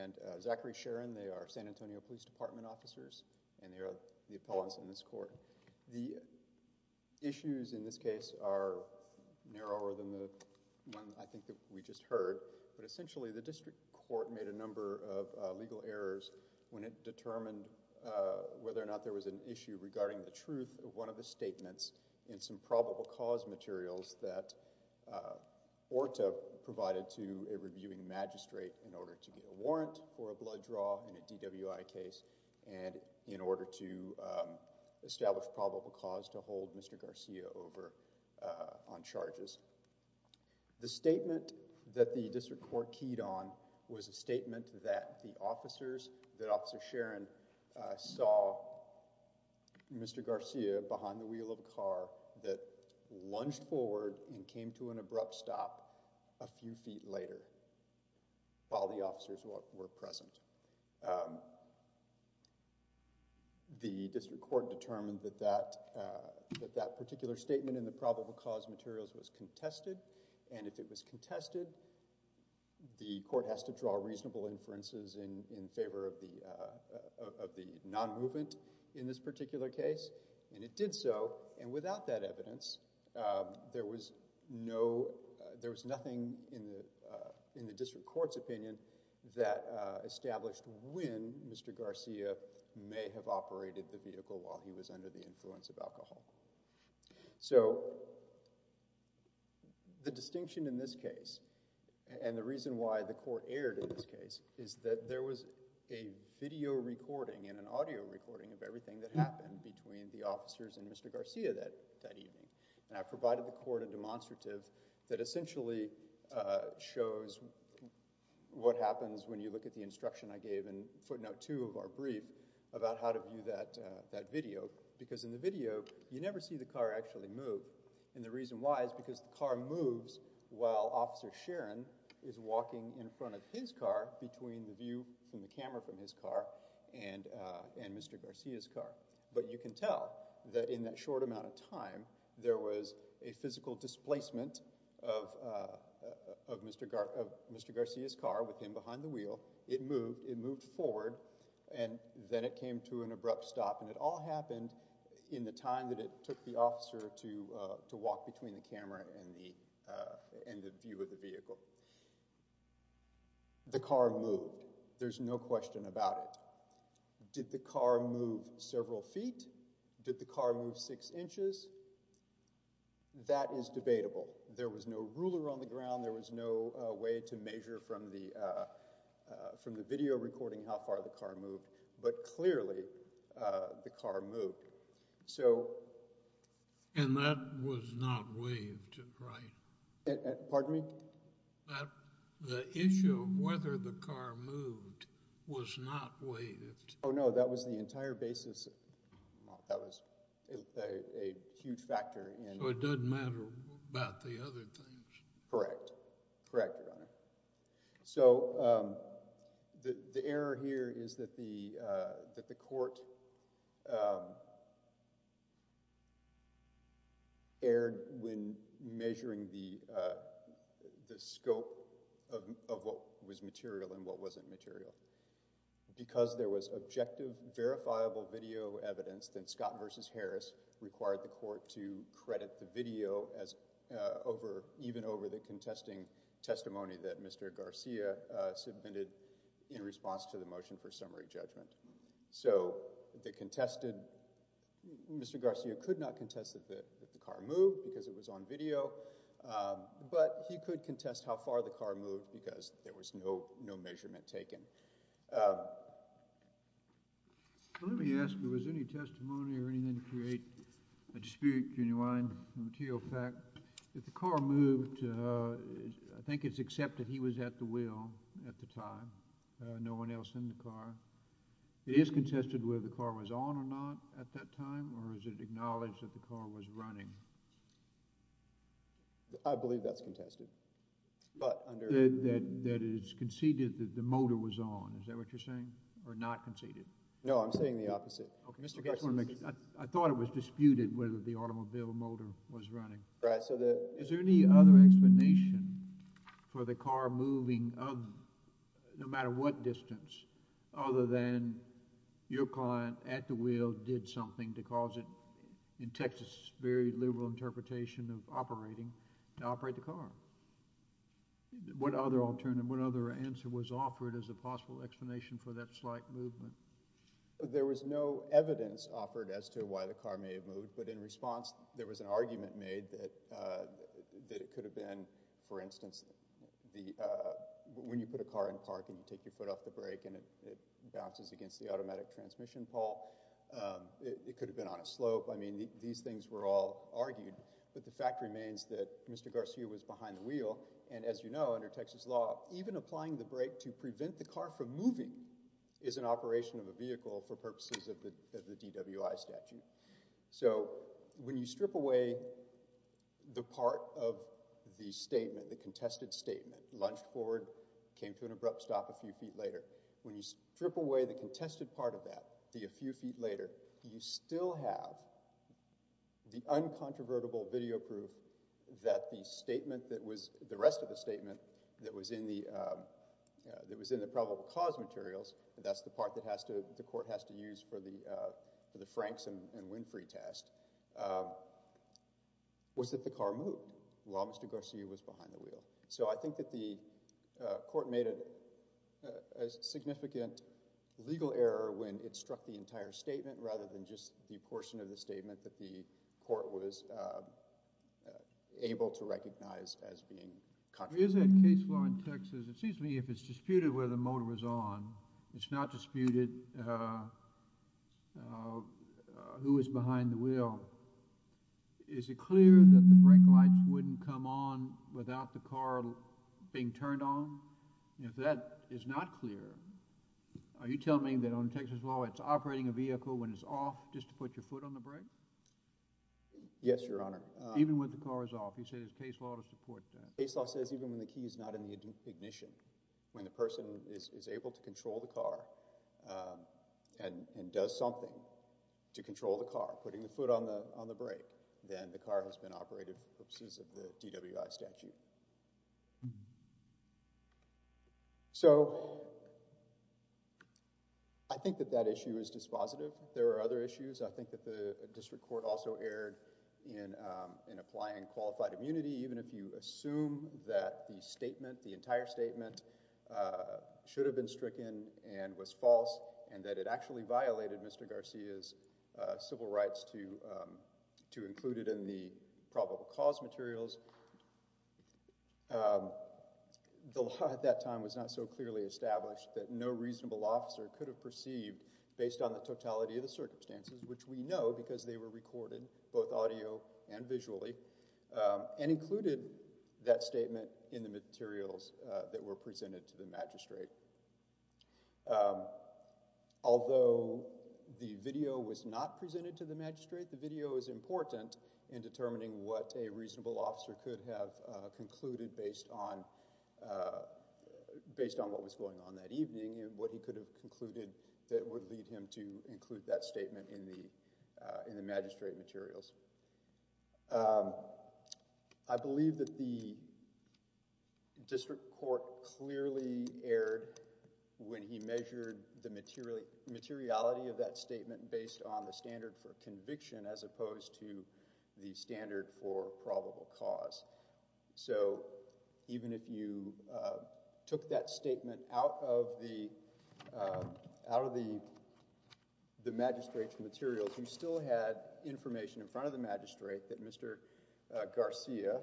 and Zachary Sharon. They are San Antonio Police Department officers and they are the appellants in this court. The issues in this case are narrower than the one I think that we just heard, but essentially the district court made a number of legal errors when it determined whether or not there was an issue regarding the truth of one of the statements in some probable cause materials that Orta provided to a reviewing magistrate in order to get a warrant for a blood draw in a DWI case and in order to establish probable cause to hold Mr. Garcia over on charges. The statement that the district court keyed on was a statement that the officers, that Officer Sharon saw Mr. Garcia behind the wheel of a car that lunged forward and came to an abrupt stop a few feet later while the officers were present. The district court determined that that particular statement in the probable cause materials was contested and if it was contested, the court has to draw reasonable inferences in favor of the non-movement in this particular case and it did so and without that evidence, there was nothing in the district court's opinion that established when Mr. Garcia may have operated the vehicle while he was under the influence of alcohol. So the distinction in this case and the reason why the court erred in this case is that there was a video recording and an audio recording of everything that happened between the officers and Mr. Garcia and I provided the court a demonstrative that essentially shows what happens when you look at the instruction I gave in footnote 2 of our brief about how to view that video because in the video, you never see the car actually move and the reason why is because the car moves while Officer Sharon is walking in front of his car between the view from the camera from his car and Mr. Garcia's car but you can tell that in that short amount of time, there was a physical displacement of Mr. Garcia's car with him behind the wheel. It moved, it moved forward and then it came to an abrupt stop and it all happened in the time that it took the officer to walk between the camera and the view of the vehicle. The car moved. There's no question about it. Did the car move several feet? Did the car move six inches? That is debatable. There was no ruler on the ground. There was no way to measure from the video recording how far the car moved but clearly, the car moved, so... And that was not waived, right? Pardon me? The issue of whether the car moved was not waived. Oh no, that was the entire basis. That was a huge factor in... So it doesn't matter about the other things? Correct. Correct, Your Honor. So, the error here is that the court erred when measuring the scope of what was material and what wasn't material. Because there was objective, verifiable video evidence, then Scott v. Harris required the court to credit the video even over the contesting testimony that Mr. Garcia submitted in response to the motion for summary judgment. So, the contested... Mr. Garcia could not contest that the car moved because it was on video, but he could contest how far the car moved because there was no measurement taken. Let me ask, was there any testimony or anything to create a dispute to unwind the material fact? If the car moved, I think it's accepted he was at the wheel at the time, no one else in the car. It is contested whether the car was on or not at that time, or is it acknowledged that the car was running? I believe that's contested. That it's conceded that the motor was on, is that what you're saying? Or not conceded? No, I'm saying the opposite. I thought it was disputed whether the automobile motor was running. Is there any other explanation for the car moving no matter what distance, other than your client at the wheel did something to cause it, in Texas' very liberal interpretation of operating, to operate the car? What other answer was offered as a possible explanation for that slight movement? There was no evidence offered as to why the car may have moved, but in response there was an argument made that it could have been, for instance, when you put a car in park and you take your foot off the brake and it bounces against the automatic transmission pole, it could have been on a slope. I mean, these things were all argued, but the fact remains that Mr. Garcia was behind the wheel, and as you know, under Texas law, even applying the brake to prevent the car from moving is an operation of a vehicle for purposes of the DWI statute. So when you strip away the part of the statement, the contested statement, launched forward, came to an abrupt stop a few feet later, when you strip away the contested part of that, the a few feet later, you still have the uncontrovertible video proof that the statement that was, the rest of the statement that was in the probable cause materials, that's the part that the court has to use for the Franks and Winfrey test, was that the car moved while Mr. Garcia was behind the wheel. So I think that the court made a significant legal error when it struck the entire statement rather than just the portion of the statement that the court was able to recognize as being controversial. Is that case law in Texas, it seems to me if it's disputed whether the motor was on, it's not disputed who was behind the wheel, is it clear that the brake lights wouldn't come on without the car being turned on? If that is not clear, are you telling me that under Texas law, it's operating a vehicle when it's off just to put your foot on the brake? Yes, Your Honor. Even when the car is off, you say there's case law to support that. Case law says even when the key is not in the ignition, when the person is able to control the car and does something to control the car, putting the foot on the brake, then the car has been operated for purposes of the DWI statute. So I think that that issue is dispositive. There are other issues. I think that the district court also erred in applying qualified immunity. Even if you assume that the statement, the entire statement should have been stricken and was false and that it actually violated Mr. Garcia's civil rights to include it in the probable cause materials, the law at that time was not so clearly established that no reasonable officer could have perceived, based on the totality of the circumstances, which we know because they were recorded both audio and visually, and included that statement in the materials that were presented to the magistrate. Although the video was not presented to the magistrate, I think the video is important in determining what a reasonable officer could have concluded based on what was going on that evening and what he could have concluded that would lead him to include that statement in the magistrate materials. I believe that the district court clearly erred when he measured the materiality of that statement based on the standard for conviction as opposed to the standard for probable cause. So even if you took that statement out of the magistrate's materials, you still had information in front of the magistrate that Mr. Garcia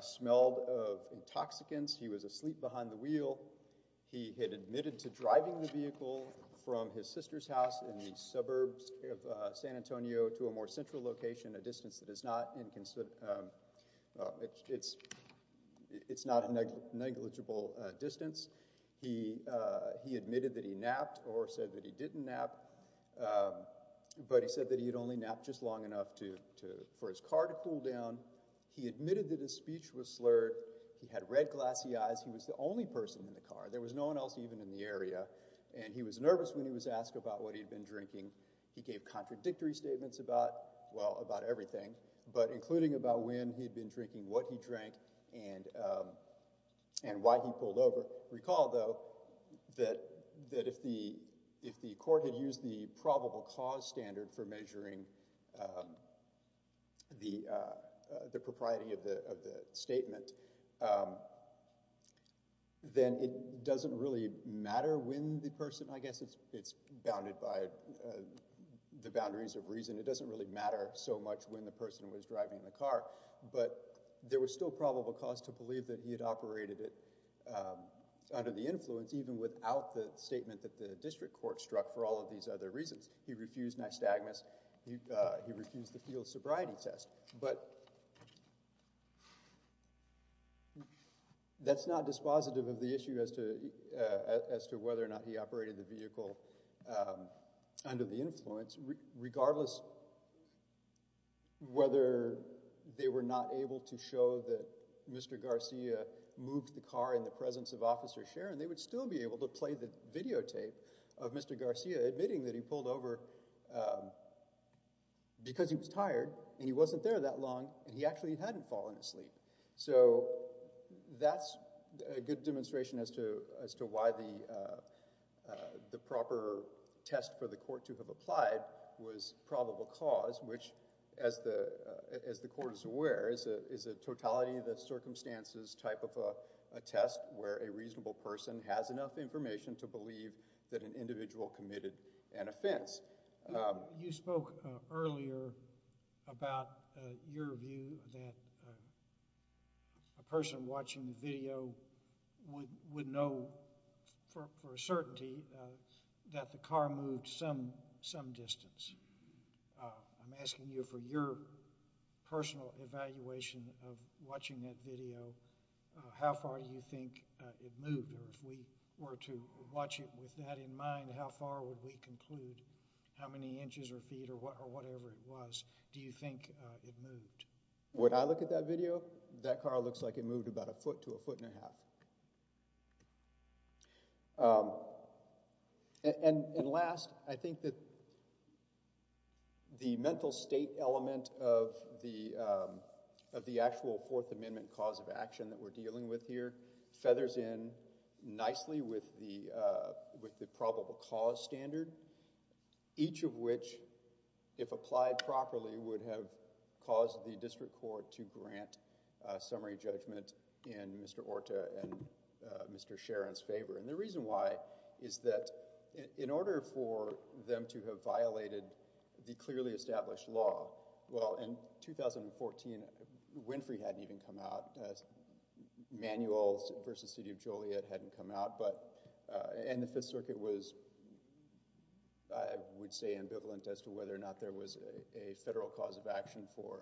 smelled of intoxicants. He was asleep behind the wheel. He had admitted to driving the vehicle from his sister's house in the suburbs of San Antonio to a more central location, a distance that is not a negligible distance. He admitted that he napped or said that he didn't nap, but he said that he had only napped just long enough for his car to cool down. He admitted that his speech was slurred. He had red glassy eyes. He was the only person in the car. There was no one else even in the area, and he was nervous when he was asked about what he had been drinking. He gave contradictory statements about, well, about everything, but including about when he had been drinking, what he drank, and why he pulled over. Recall, though, that if the court had used the probable cause standard for measuring the propriety of the statement, then it doesn't really matter when the person—I guess it's bounded by the boundaries of reason. It doesn't really matter so much when the person was driving the car, but there was still probable cause to believe that he had operated it under the influence even without the statement that the district court struck for all of these other reasons. He refused nystagmus. He refused the field sobriety test. But that's not dispositive of the issue as to whether or not he operated the vehicle under the influence. Regardless whether they were not able to show that Mr. Garcia moved the car in the presence of Officer Sharon, they would still be able to play the videotape of Mr. Garcia admitting that he pulled over because he was tired and he wasn't there that long and he actually hadn't fallen asleep. So that's a good demonstration as to why the proper test for the court to have applied was probable cause, which, as the court is aware, is a totality that circumstances type of a test where a reasonable person has enough information to believe that an individual committed an offense. You spoke earlier about your view that a person watching the video would know for a certainty that the car moved some distance. I'm asking you for your personal evaluation of watching that video. How far do you think it moved? Or if we were to watch it with that in mind, how far would we conclude? How many inches or feet or whatever it was do you think it moved? When I look at that video, that car looks like it moved about a foot to a foot and a half. And last, I think that the mental state element of the actual Fourth Amendment cause of action that we're dealing with here feathers in nicely with the probable cause standard, each of which, if applied properly, would have caused the district court to grant a summary judgment in Mr. Orta and Mr. Sharon's favor. And the reason why is that in order for them to have violated the clearly established law, well, in 2014, Winfrey hadn't even come out. Manuals v. City of Joliet hadn't come out. And the Fifth Circuit was, I would say, ambivalent as to whether or not there was a federal cause of action for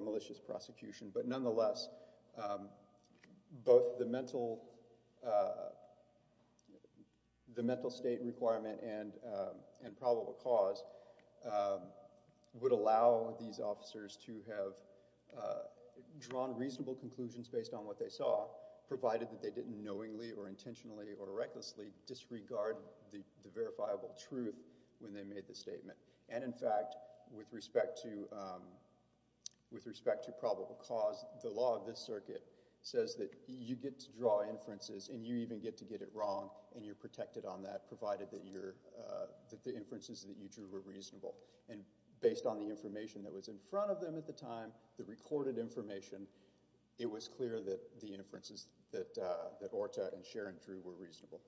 malicious prosecution. But nonetheless, both the mental state requirement and probable cause would allow these officers to have drawn reasonable conclusions based on what they saw, provided that they didn't knowingly or intentionally or recklessly disregard the verifiable truth when they made the statement. And in fact, with respect to probable cause, the law of this circuit says that you get to draw inferences and you even get to get it wrong and you're protected on that, provided that the inferences that you drew were reasonable. And based on the information that was in front of them at the time, the recorded information, it was clear that the inferences that Orta and Sharon drew were reasonable.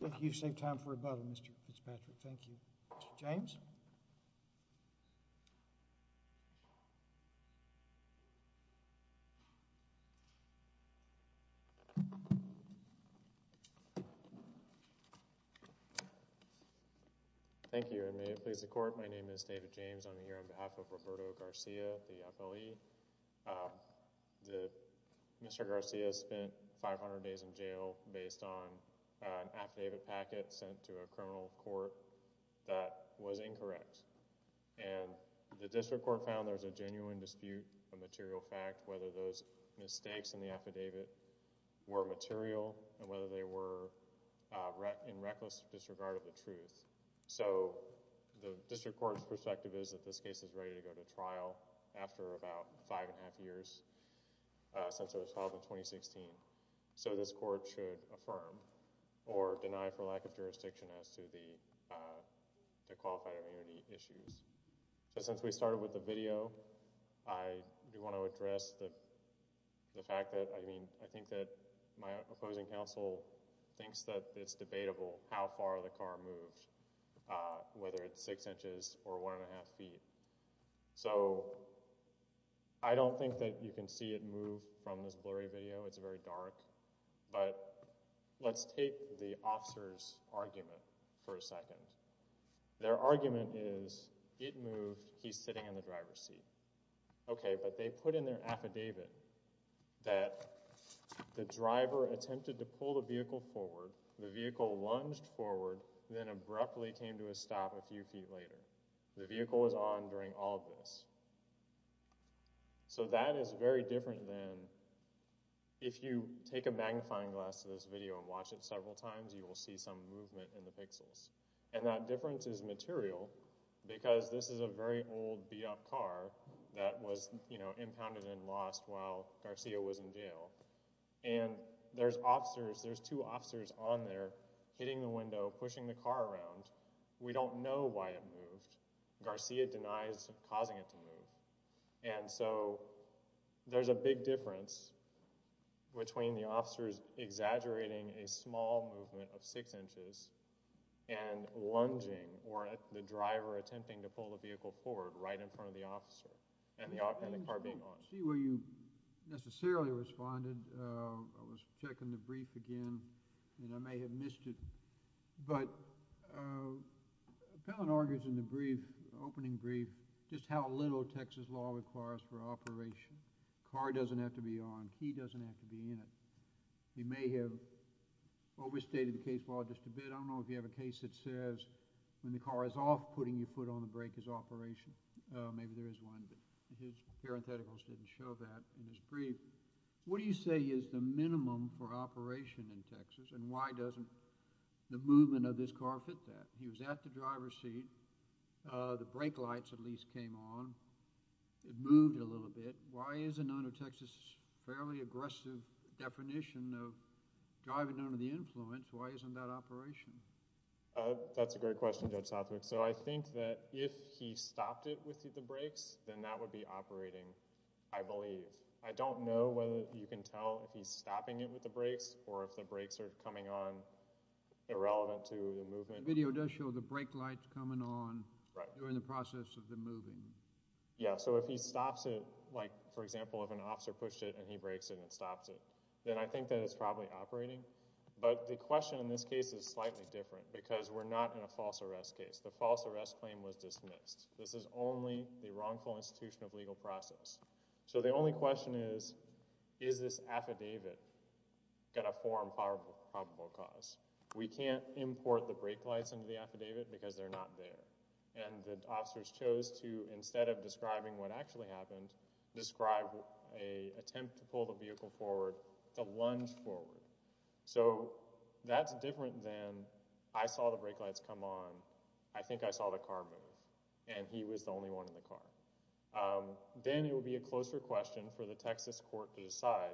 Thank you. You've saved time for rebuttal, Mr. Fitzpatrick. Thank you. Mr. James? Thank you, and may it please the Court. My name is David James. I'm here on behalf of Roberto Garcia, the FLE. Mr. Garcia spent 500 days in jail based on an affidavit packet sent to a criminal court that was incorrect. And the district court found there was a genuine dispute of material fact, whether those mistakes in the affidavit were material and whether they were in reckless disregard of the truth. So the district court's perspective is that this case is ready to go to trial after about five and a half years since it was filed in 2016. So this court should affirm or deny for lack of jurisdiction as to the qualified immunity issues. Since we started with the video, I do want to address the fact that, I mean, I think that my opposing counsel thinks that it's debatable how far the car moved, whether it's six inches or one and a half feet. So I don't think that you can see it move from this blurry video. It's very dark. But let's take the officer's argument for a second. Their argument is, it moved, he's sitting in the driver's seat. Okay, but they put in their affidavit that the driver attempted to pull the vehicle forward, the vehicle lunged forward, then abruptly came to a stop a few feet later. The vehicle was on during all of this. So that is very different than if you take a magnifying glass to this video and watch it several times, you will see some movement in the pixels. And that difference is material because this is a very old beat-up car that was impounded and lost while Garcia was in jail. And there's officers, there's two officers on there hitting the window, pushing the car around. We don't know why it moved. Garcia denies causing it to move. And so there's a big difference between the officers exaggerating a small movement of six inches and lunging or the driver attempting to pull the vehicle forward right in front of the officer and the car being on. I don't see where you necessarily responded. I was checking the brief again and I may have missed it. But Pellin argues in the brief, opening brief, just how little Texas law requires for operation. The car doesn't have to be on, he doesn't have to be in it. He may have overstated the case law just a bit. I don't know if you have a case that says when the car is off, putting your foot on the brake is operation. Maybe there is one, but his parentheticals didn't show that in his brief. What do you say is the minimum for operation in Texas and why doesn't the movement of this car fit that? He was at the driver's seat, the brake lights at least came on, it moved a little bit. Why isn't under Texas' fairly aggressive definition of driving under the influence, why isn't that operation? That's a great question, Judge Southwick. So I think that if he stopped it with the brakes, then that would be operating, I believe. I don't know whether you can tell if he's stopping it with the brakes or if the brakes are coming on irrelevant to the movement. The video does show the brake lights coming on during the process of the moving. Yeah, so if he stops it, like for example if an officer pushed it and he brakes it and stops it, then I think that it's probably operating. But the question in this case is slightly different because we're not in a false arrest case. The false arrest claim was dismissed. This is only the wrongful institution of legal process. So the only question is, is this affidavit going to form probable cause? We can't import the brake lights into the affidavit because they're not there. And the officers chose to, instead of describing what actually happened, describe an attempt to pull the vehicle forward, to lunge forward. So that's different than, I saw the brake lights come on, I think I saw the car move, and he was the only one in the car. Then it would be a closer question for the Texas court to decide,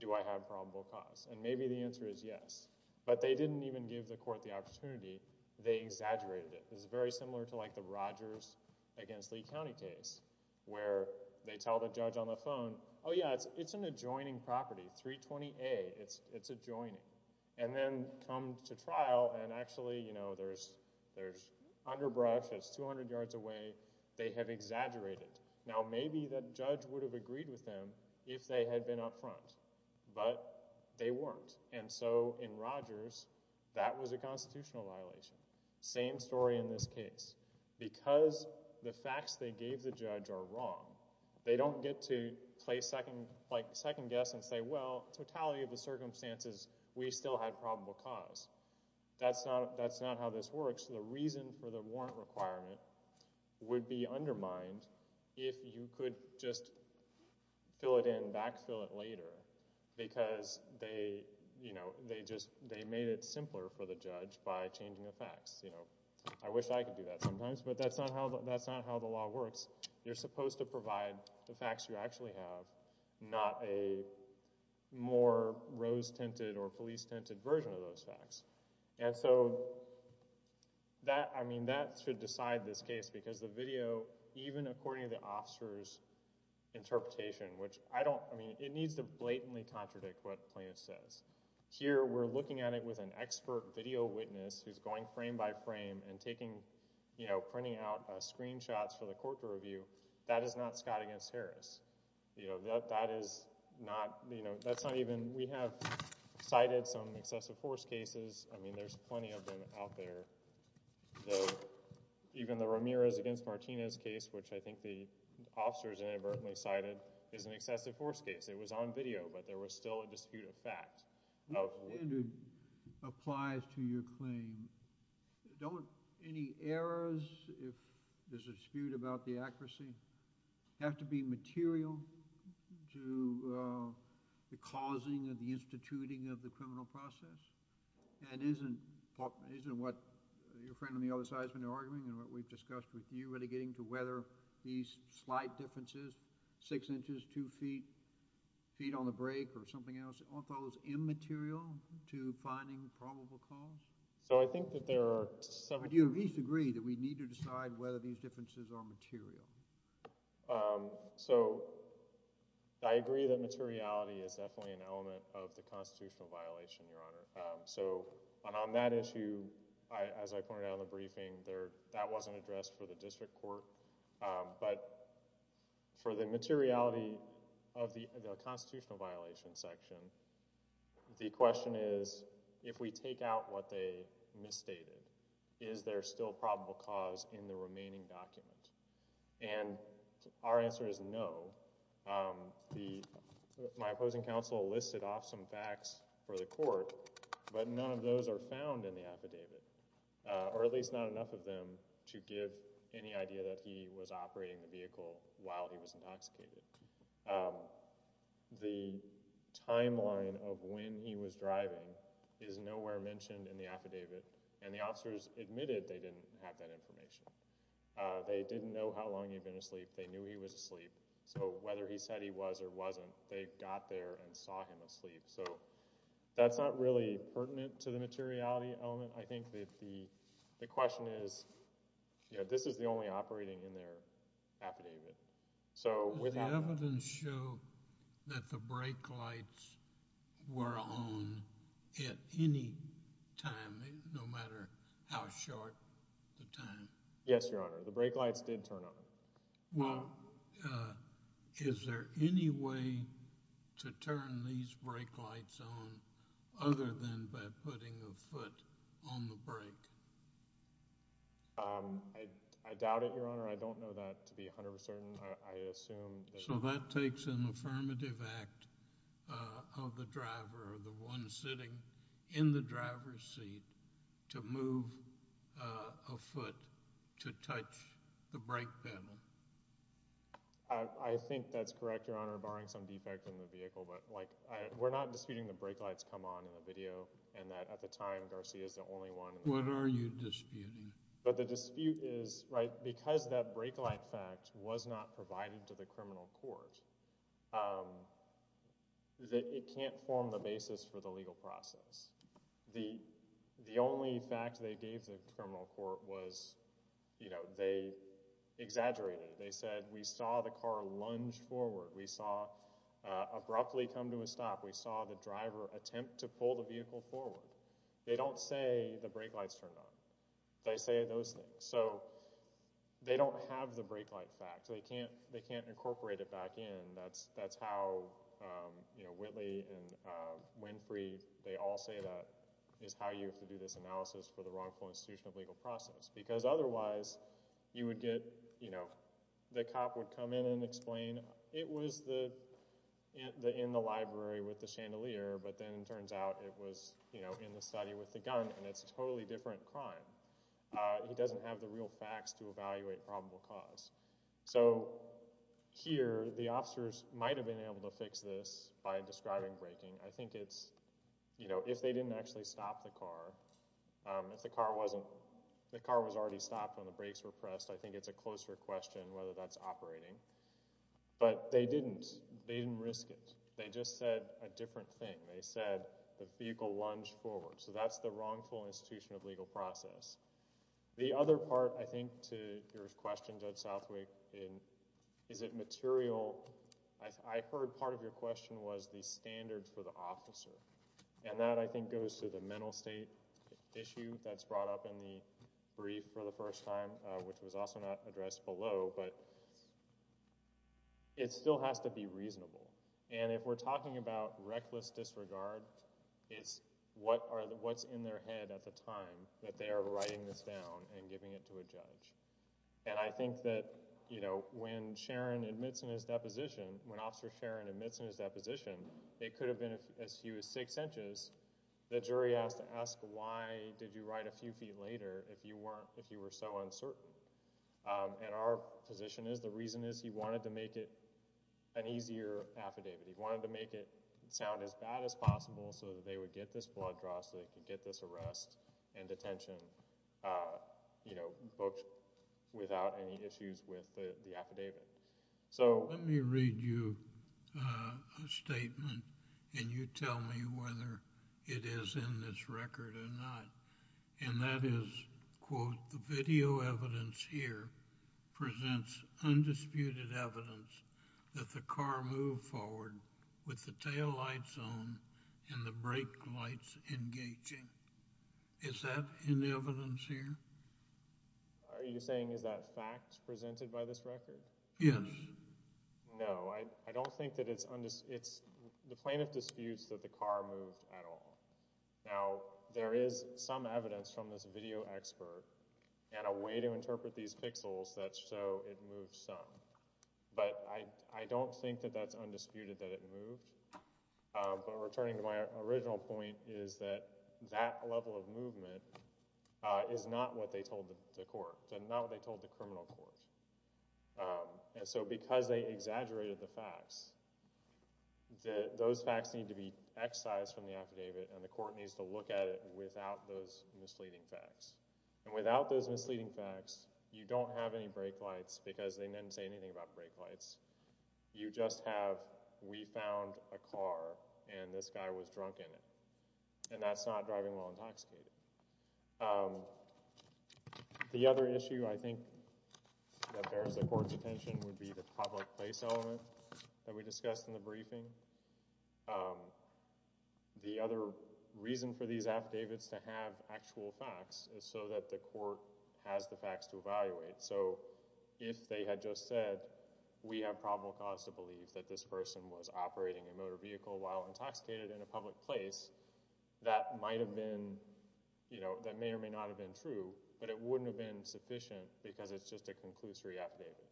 do I have probable cause? And maybe the answer is yes. But they didn't even give the court the opportunity, they exaggerated it. This is very similar to like the Rogers against Lee County case, where they tell the judge on the phone, oh yeah, it's an adjoining property, 320A, it's adjoining. And then come to trial and actually, you know, there's underbrush, it's 200 yards away, they have exaggerated. Now maybe the judge would have agreed with them if they had been up front, but they weren't. And so in Rogers, that was a constitutional violation. Same story in this case. Because the facts they gave the judge are wrong, they don't get to play second guess and say, well, totality of the circumstances, we still had probable cause. That's not how this works. The reason for the warrant requirement would be undermined if you could just fill it in, backfill it later, because they made it simpler for the judge by changing the facts. I wish I could do that sometimes, but that's not how the law works. You're supposed to provide the facts you actually have, not a more rose-tinted or police-tinted version of those facts. And so that, I mean, that should decide this case, because the video, even according to the officer's interpretation, which I don't, I mean, it needs to blatantly contradict what Plaintiff says. Here, we're looking at it with an expert video witness who's going frame by frame and taking, you know, printing out screenshots for the court to review. That is not Scott against Harris. You know, that is not, you know, that's not even, we have cited some excessive force cases. I mean, there's plenty of them out there. Even the Ramirez against Martinez case, which I think the officers inadvertently cited, is an excessive force case. It was on video, but there was still a dispute of fact. The standard applies to your claim. Don't any errors, if there's a dispute about the accuracy, have to be material to the causing and the instituting of the criminal process? And isn't what your friend on the other side has been arguing and what we've discussed with you really getting to whether these slight differences, six inches, two feet, feet on the break, or something else, aren't those immaterial to finding probable cause? So I think that there are several… Do you at least agree that we need to decide whether these differences are material? So I agree that materiality is definitely an element of the constitutional violation, Your Honor. So on that issue, as I pointed out in the briefing, that wasn't addressed for the district court. But for the materiality of the constitutional violation section, the question is, if we take out what they misstated, is there still probable cause in the remaining document? And our answer is no. My opposing counsel listed off some facts for the court, but none of those are found in the affidavit, or at least not enough of them to give any idea that he was operating the vehicle while he was intoxicated. The timeline of when he was driving is nowhere mentioned in the affidavit, and the officers admitted they didn't have that information. They didn't know how long he'd been asleep. They knew he was asleep. So whether he said he was or wasn't, they got there and saw him asleep. So that's not really pertinent to the materiality element. I think that the question is, you know, this is the only operating in their affidavit. Did the evidence show that the brake lights were on at any time, no matter how short the time? Yes, Your Honor. The brake lights did turn on. Well, is there any way to turn these brake lights on other than by putting a foot on the brake? I doubt it, Your Honor. I don't know that to be 100% certain. I assume— So that takes an affirmative act of the driver or the one sitting in the driver's seat to move a foot to touch the brake pedal. I think that's correct, Your Honor, barring some defects in the vehicle. But, like, we're not disputing the brake lights come on in the video and that at the time Garcia is the only one— What are you disputing? But the dispute is, right, because that brake light fact was not provided to the criminal court, it can't form the basis for the legal process. The only fact they gave the criminal court was, you know, they exaggerated. They said, we saw the car lunge forward. We saw it abruptly come to a stop. We saw the driver attempt to pull the vehicle forward. They don't say the brake lights turned on. They say those things. So they don't have the brake light fact. They can't incorporate it back in. That's how, you know, Whitley and Winfrey, they all say that is how you have to do this analysis for the wrongful institution of legal process. Because otherwise you would get, you know, the cop would come in and explain, it was in the library with the chandelier, but then it turns out it was, you know, in the study with the gun, and it's a totally different crime. He doesn't have the real facts to evaluate probable cause. So here the officers might have been able to fix this by describing braking. I think it's, you know, if they didn't actually stop the car, if the car wasn't— I think it's a closer question whether that's operating. But they didn't. They didn't risk it. They just said a different thing. They said the vehicle lunged forward. So that's the wrongful institution of legal process. The other part, I think, to your question, Judge Southwick, is it material— I heard part of your question was the standard for the officer. And that, I think, goes to the mental state issue that's brought up in the brief for the first time, which was also not addressed below, but it still has to be reasonable. And if we're talking about reckless disregard, it's what's in their head at the time that they are writing this down and giving it to a judge. And I think that, you know, when Sharon admits in his deposition, when Officer Sharon admits in his deposition, it could have been as few as six inches. The jury has to ask, why did you write a few feet later if you were so uncertain? And our position is the reason is he wanted to make it an easier affidavit. He wanted to make it sound as bad as possible so that they would get this blood draw, so they could get this arrest and detention, you know, booked without any issues with the affidavit. Let me read you a statement, and you tell me whether it is in this record or not. And that is, quote, the video evidence here presents undisputed evidence that the car moved forward with the tail lights on and the brake lights engaging. Is that in the evidence here? Are you saying is that fact presented by this record? Yes. No, I don't think that it's undisputed. The plaintiff disputes that the car moved at all. Now, there is some evidence from this video expert and a way to interpret these pixels that show it moved some, but I don't think that that's undisputed that it moved. But returning to my original point is that that level of movement is not what they told the court. It's not what they told the criminal court. And so because they exaggerated the facts, those facts need to be excised from the affidavit, and the court needs to look at it without those misleading facts. And without those misleading facts, you don't have any brake lights because they didn't say anything about brake lights. You just have we found a car and this guy was drunk in it, and that's not driving while intoxicated. The other issue I think that bears the court's attention would be the public place element that we discussed in the briefing. The other reason for these affidavits to have actual facts is so that the court has the facts to evaluate. So if they had just said we have probable cause to believe that this person was operating a motor vehicle while intoxicated in a public place, that might have been, you know, that may or may not have been true, but it wouldn't have been sufficient because it's just a conclusory affidavit.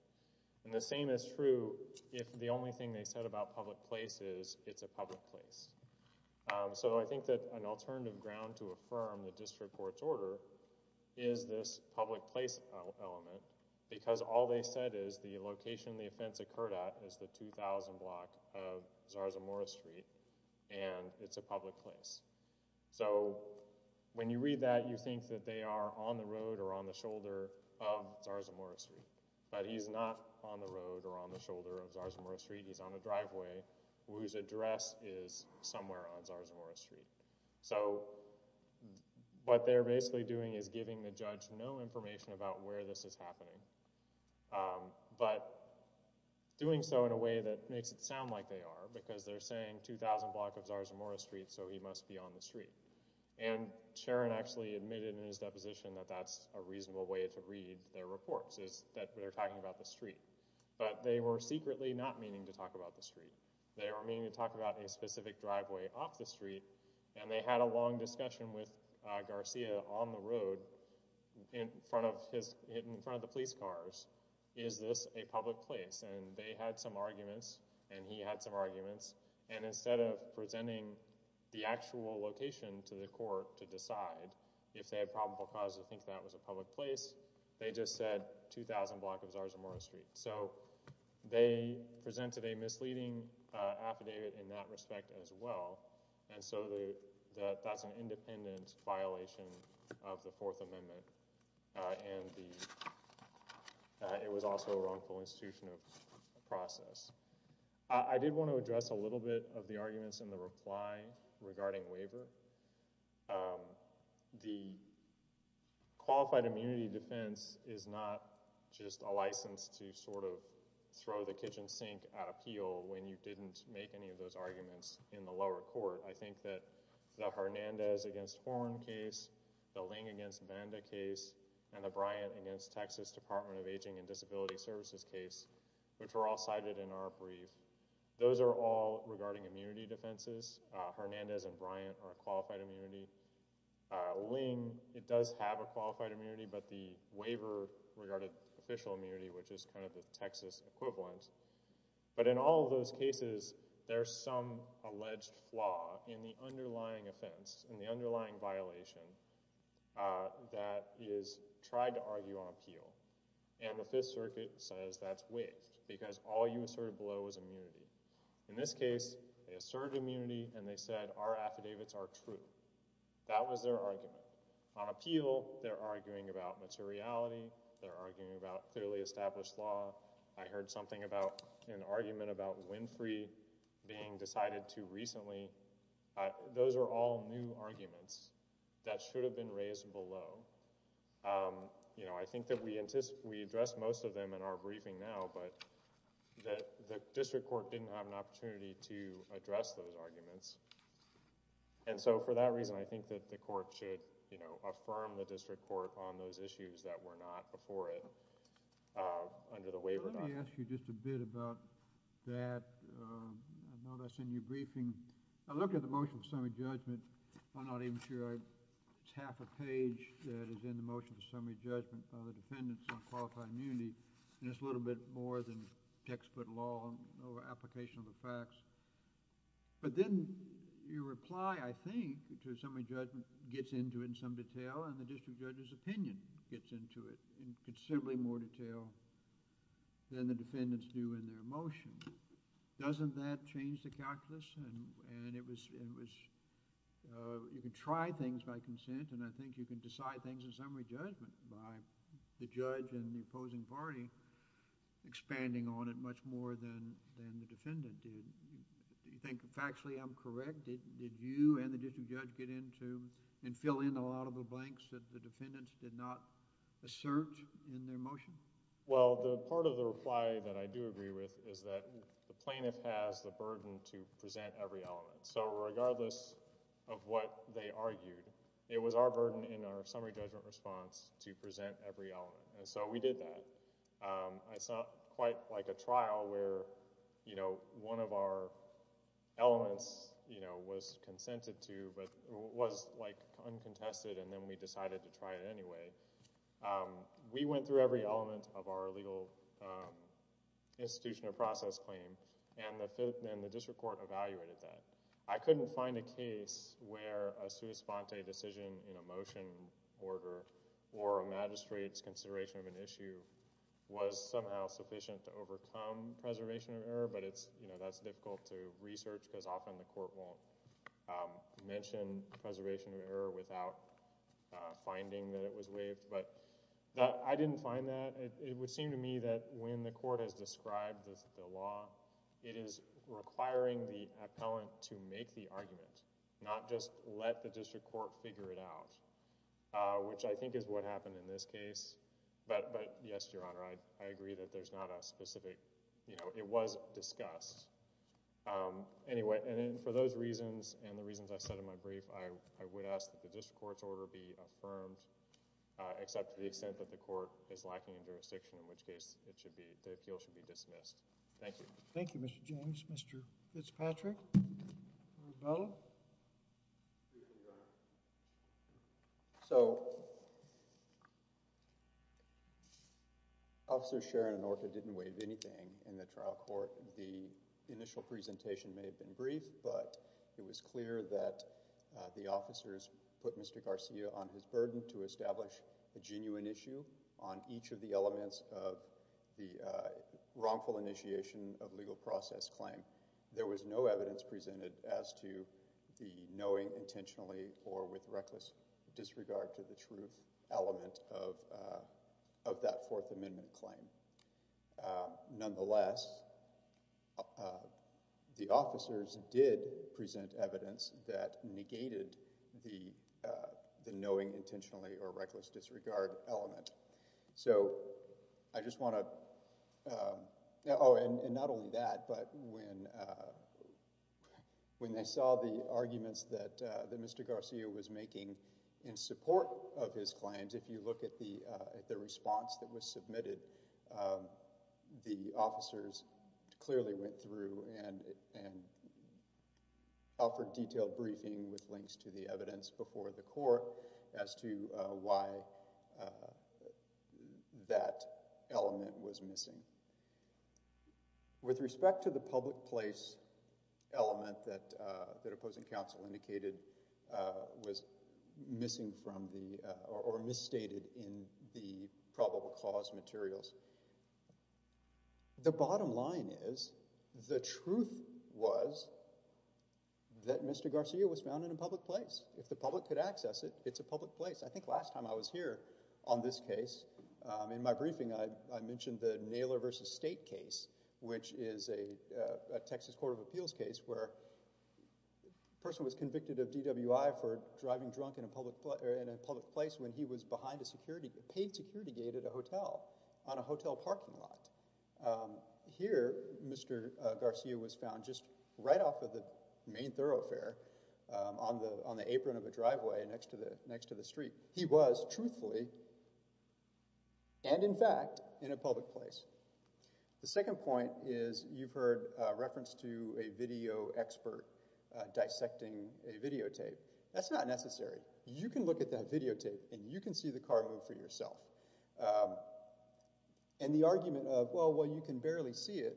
And the same is true if the only thing they said about public place is it's a public place. So I think that an alternative ground to affirm the district court's order is this public place element because all they said is the location the offense occurred at is the 2000 block of Zarzamora Street, and it's a public place. So when you read that, you think that they are on the road or on the shoulder of Zarzamora Street, but he's not on the road or on the shoulder of Zarzamora Street. He's on a driveway whose address is somewhere on Zarzamora Street. So what they're basically doing is giving the judge no information about where this is happening, but doing so in a way that makes it sound like they are because they're saying 2000 block of Zarzamora Street, so he must be on the street. And Sharon actually admitted in his deposition that that's a reasonable way to read their reports is that they're talking about the street, they were meaning to talk about a specific driveway off the street, and they had a long discussion with Garcia on the road in front of the police cars. Is this a public place? And they had some arguments, and he had some arguments, and instead of presenting the actual location to the court to decide if they had probable cause to think that was a public place, they just said 2000 block of Zarzamora Street. So they presented a misleading affidavit in that respect as well, and so that's an independent violation of the Fourth Amendment, and it was also a wrongful institution of process. I did want to address a little bit of the arguments in the reply regarding waiver. The qualified immunity defense is not just a license to sort of throw the kitchen sink at appeal when you didn't make any of those arguments in the lower court. I think that the Hernandez against Horne case, the Ling against Banda case, and the Bryant against Texas Department of Aging and Disability Services case, which were all cited in our brief, those are all regarding immunity defenses. Hernandez and Bryant are a qualified immunity. Ling, it does have a qualified immunity, but the waiver regarded official immunity, which is kind of the Texas equivalent. But in all of those cases, there's some alleged flaw in the underlying offense, in the underlying violation that is tried to argue on appeal, and the Fifth Circuit says that's waived because all you asserted below was immunity. In this case, they asserted immunity and they said our affidavits are true. That was their argument. On appeal, they're arguing about materiality. They're arguing about clearly established law. I heard something about an argument about Winfrey being decided too recently. Those are all new arguments that should have been raised below. You know, I think that we addressed most of them in our briefing now, but the district court didn't have an opportunity to address those arguments. And so for that reason, I think that the court should, you know, affirm the district court on those issues that were not before it under the waiver. Let me ask you just a bit about that. I know that's in your briefing. I looked at the motion for summary judgment. I'm not even sure I—it's half a page that is in the motion for summary judgment by the defendants on qualified immunity. And it's a little bit more than textbook law over application of the facts. But then your reply, I think, to summary judgment gets into it in some detail and the district judge's opinion gets into it in considerably more detail than the defendants do in their motion. Doesn't that change the calculus? And it was—you can try things by consent and I think you can decide things in summary judgment by the judge and the opposing party expanding on it much more than the defendant did. Do you think factually I'm correct? Did you and the district judge get into and fill in a lot of the blanks that the defendants did not assert in their motion? Well, the part of the reply that I do agree with is that the plaintiff has the burden to present every element. So regardless of what they argued, it was our burden in our summary judgment response to present every element. And so we did that. It's not quite like a trial where one of our elements was consented to but was uncontested and then we decided to try it anyway. We went through every element of our legal institution of process claim and the district court evaluated that. I couldn't find a case where a sua sponte decision in a motion order or a magistrate's consideration of an issue was somehow sufficient to overcome preservation of error but that's difficult to research because often the court won't mention preservation of error without finding that it was waived. But I didn't find that. It would seem to me that when the court has described the law, it is requiring the appellant to make the argument, not just let the district court figure it out, which I think is what happened in this case. But yes, Your Honor, I agree that there's not a specific, you know, it was discussed. Anyway, and for those reasons and the reasons I said in my brief, I would ask that the district court's order be affirmed except to the extent that the court is lacking in jurisdiction, in which case it should be, the appeal should be dismissed. Thank you. Thank you, Mr. James. Mr. Fitzpatrick? Marabella? Excuse me, Your Honor. So Officer Sharon and Orta didn't waive anything in the trial court. The initial presentation may have been brief but it was clear that the officers put Mr. Garcia on his burden to establish a genuine issue on each of the elements of the wrongful initiation of legal process claim. There was no evidence presented as to the knowing intentionally or with reckless disregard to the truth element of that Fourth Amendment claim. Nonetheless, the officers did present evidence that negated the knowing intentionally or reckless disregard element. So I just want to, oh, and not only that, but when they saw the arguments that Mr. Garcia was making in support of his claims, if you look at the response that was submitted, the officers clearly went through and offered detailed briefing with links to the evidence before the court as to why that element was missing. With respect to the public place element that opposing counsel indicated was missing from or misstated in the probable cause materials. The bottom line is the truth was that Mr. Garcia was found in a public place. If the public could access it, it's a public place. I think last time I was here on this case, in my briefing I mentioned the Naylor v. State case, which is a Texas Court of Appeals case where a person was convicted of DWI for driving drunk in a public place when he was behind a paid security gate at a hotel on a hotel parking lot. Here Mr. Garcia was found just right off of the main thoroughfare on the apron of a driveway next to the street. He was truthfully and in fact in a public place. The second point is you've heard reference to a video expert dissecting a videotape. That's not necessary. You can look at that videotape and you can see the car move for yourself. And the argument of, well, you can barely see it,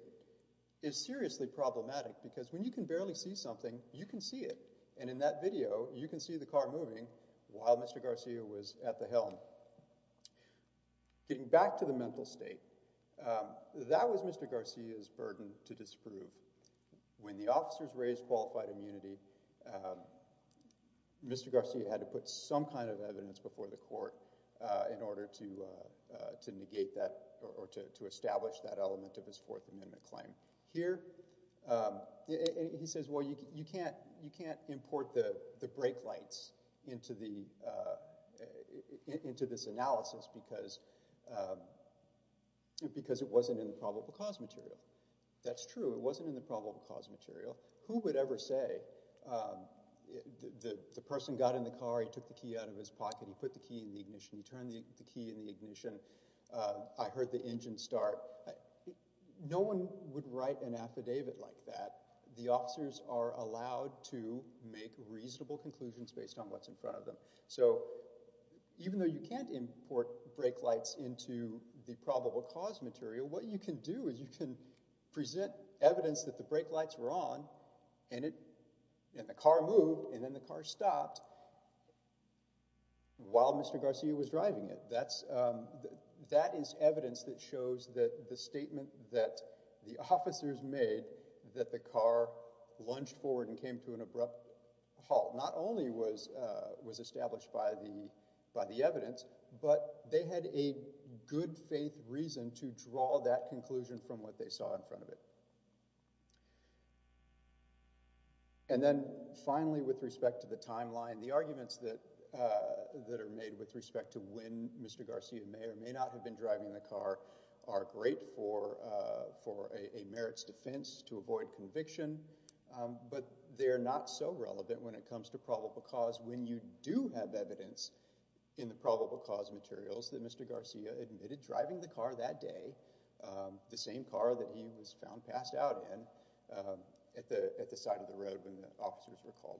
is seriously problematic because when you can barely see something, you can see it. And in that video, you can see the car moving while Mr. Garcia was at the helm. Getting back to the mental state, that was Mr. Garcia's burden to disprove. When the officers raised qualified immunity, Mr. Garcia had to put some kind of evidence before the court in order to negate that or to establish that element of his Fourth Amendment claim. Here he says, well, you can't import the brake lights into this analysis because it wasn't in the probable cause material. That's true. It wasn't in the probable cause material. Who would ever say the person got in the car, he took the key out of his pocket, he put the key in the ignition, he turned the key in the ignition, I heard the engine start. No one would write an affidavit like that. The officers are allowed to make reasonable conclusions based on what's in front of them. So even though you can't import brake lights into the probable cause material, what you can do is you can present evidence that the brake lights were on and the car moved and then the car stopped while Mr. Garcia was driving it. That is evidence that shows that the statement that the officers made that the car lunged forward and came to an abrupt halt not only was established by the evidence, but they had a good faith reason to draw that conclusion from what they saw in front of it. And then finally, with respect to the timeline, the arguments that are made with respect to when Mr. Garcia may or may not have been driving the car are great for a merits defense to avoid conviction, but they're not so relevant when it comes to probable cause when you do have evidence in the probable cause materials that Mr. Garcia admitted driving the car that day, the same car that he was found passed out in, at the side of the road when the officers were called.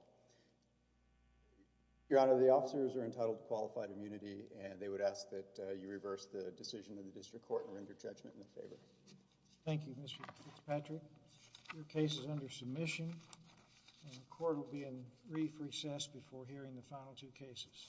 Your Honor, the officers are entitled to qualified immunity and they would ask that you reverse the decision of the district court and render judgment in their favor. Thank you, Mr. Fitzpatrick. Your case is under submission and the court will be in brief recess before hearing the final two cases.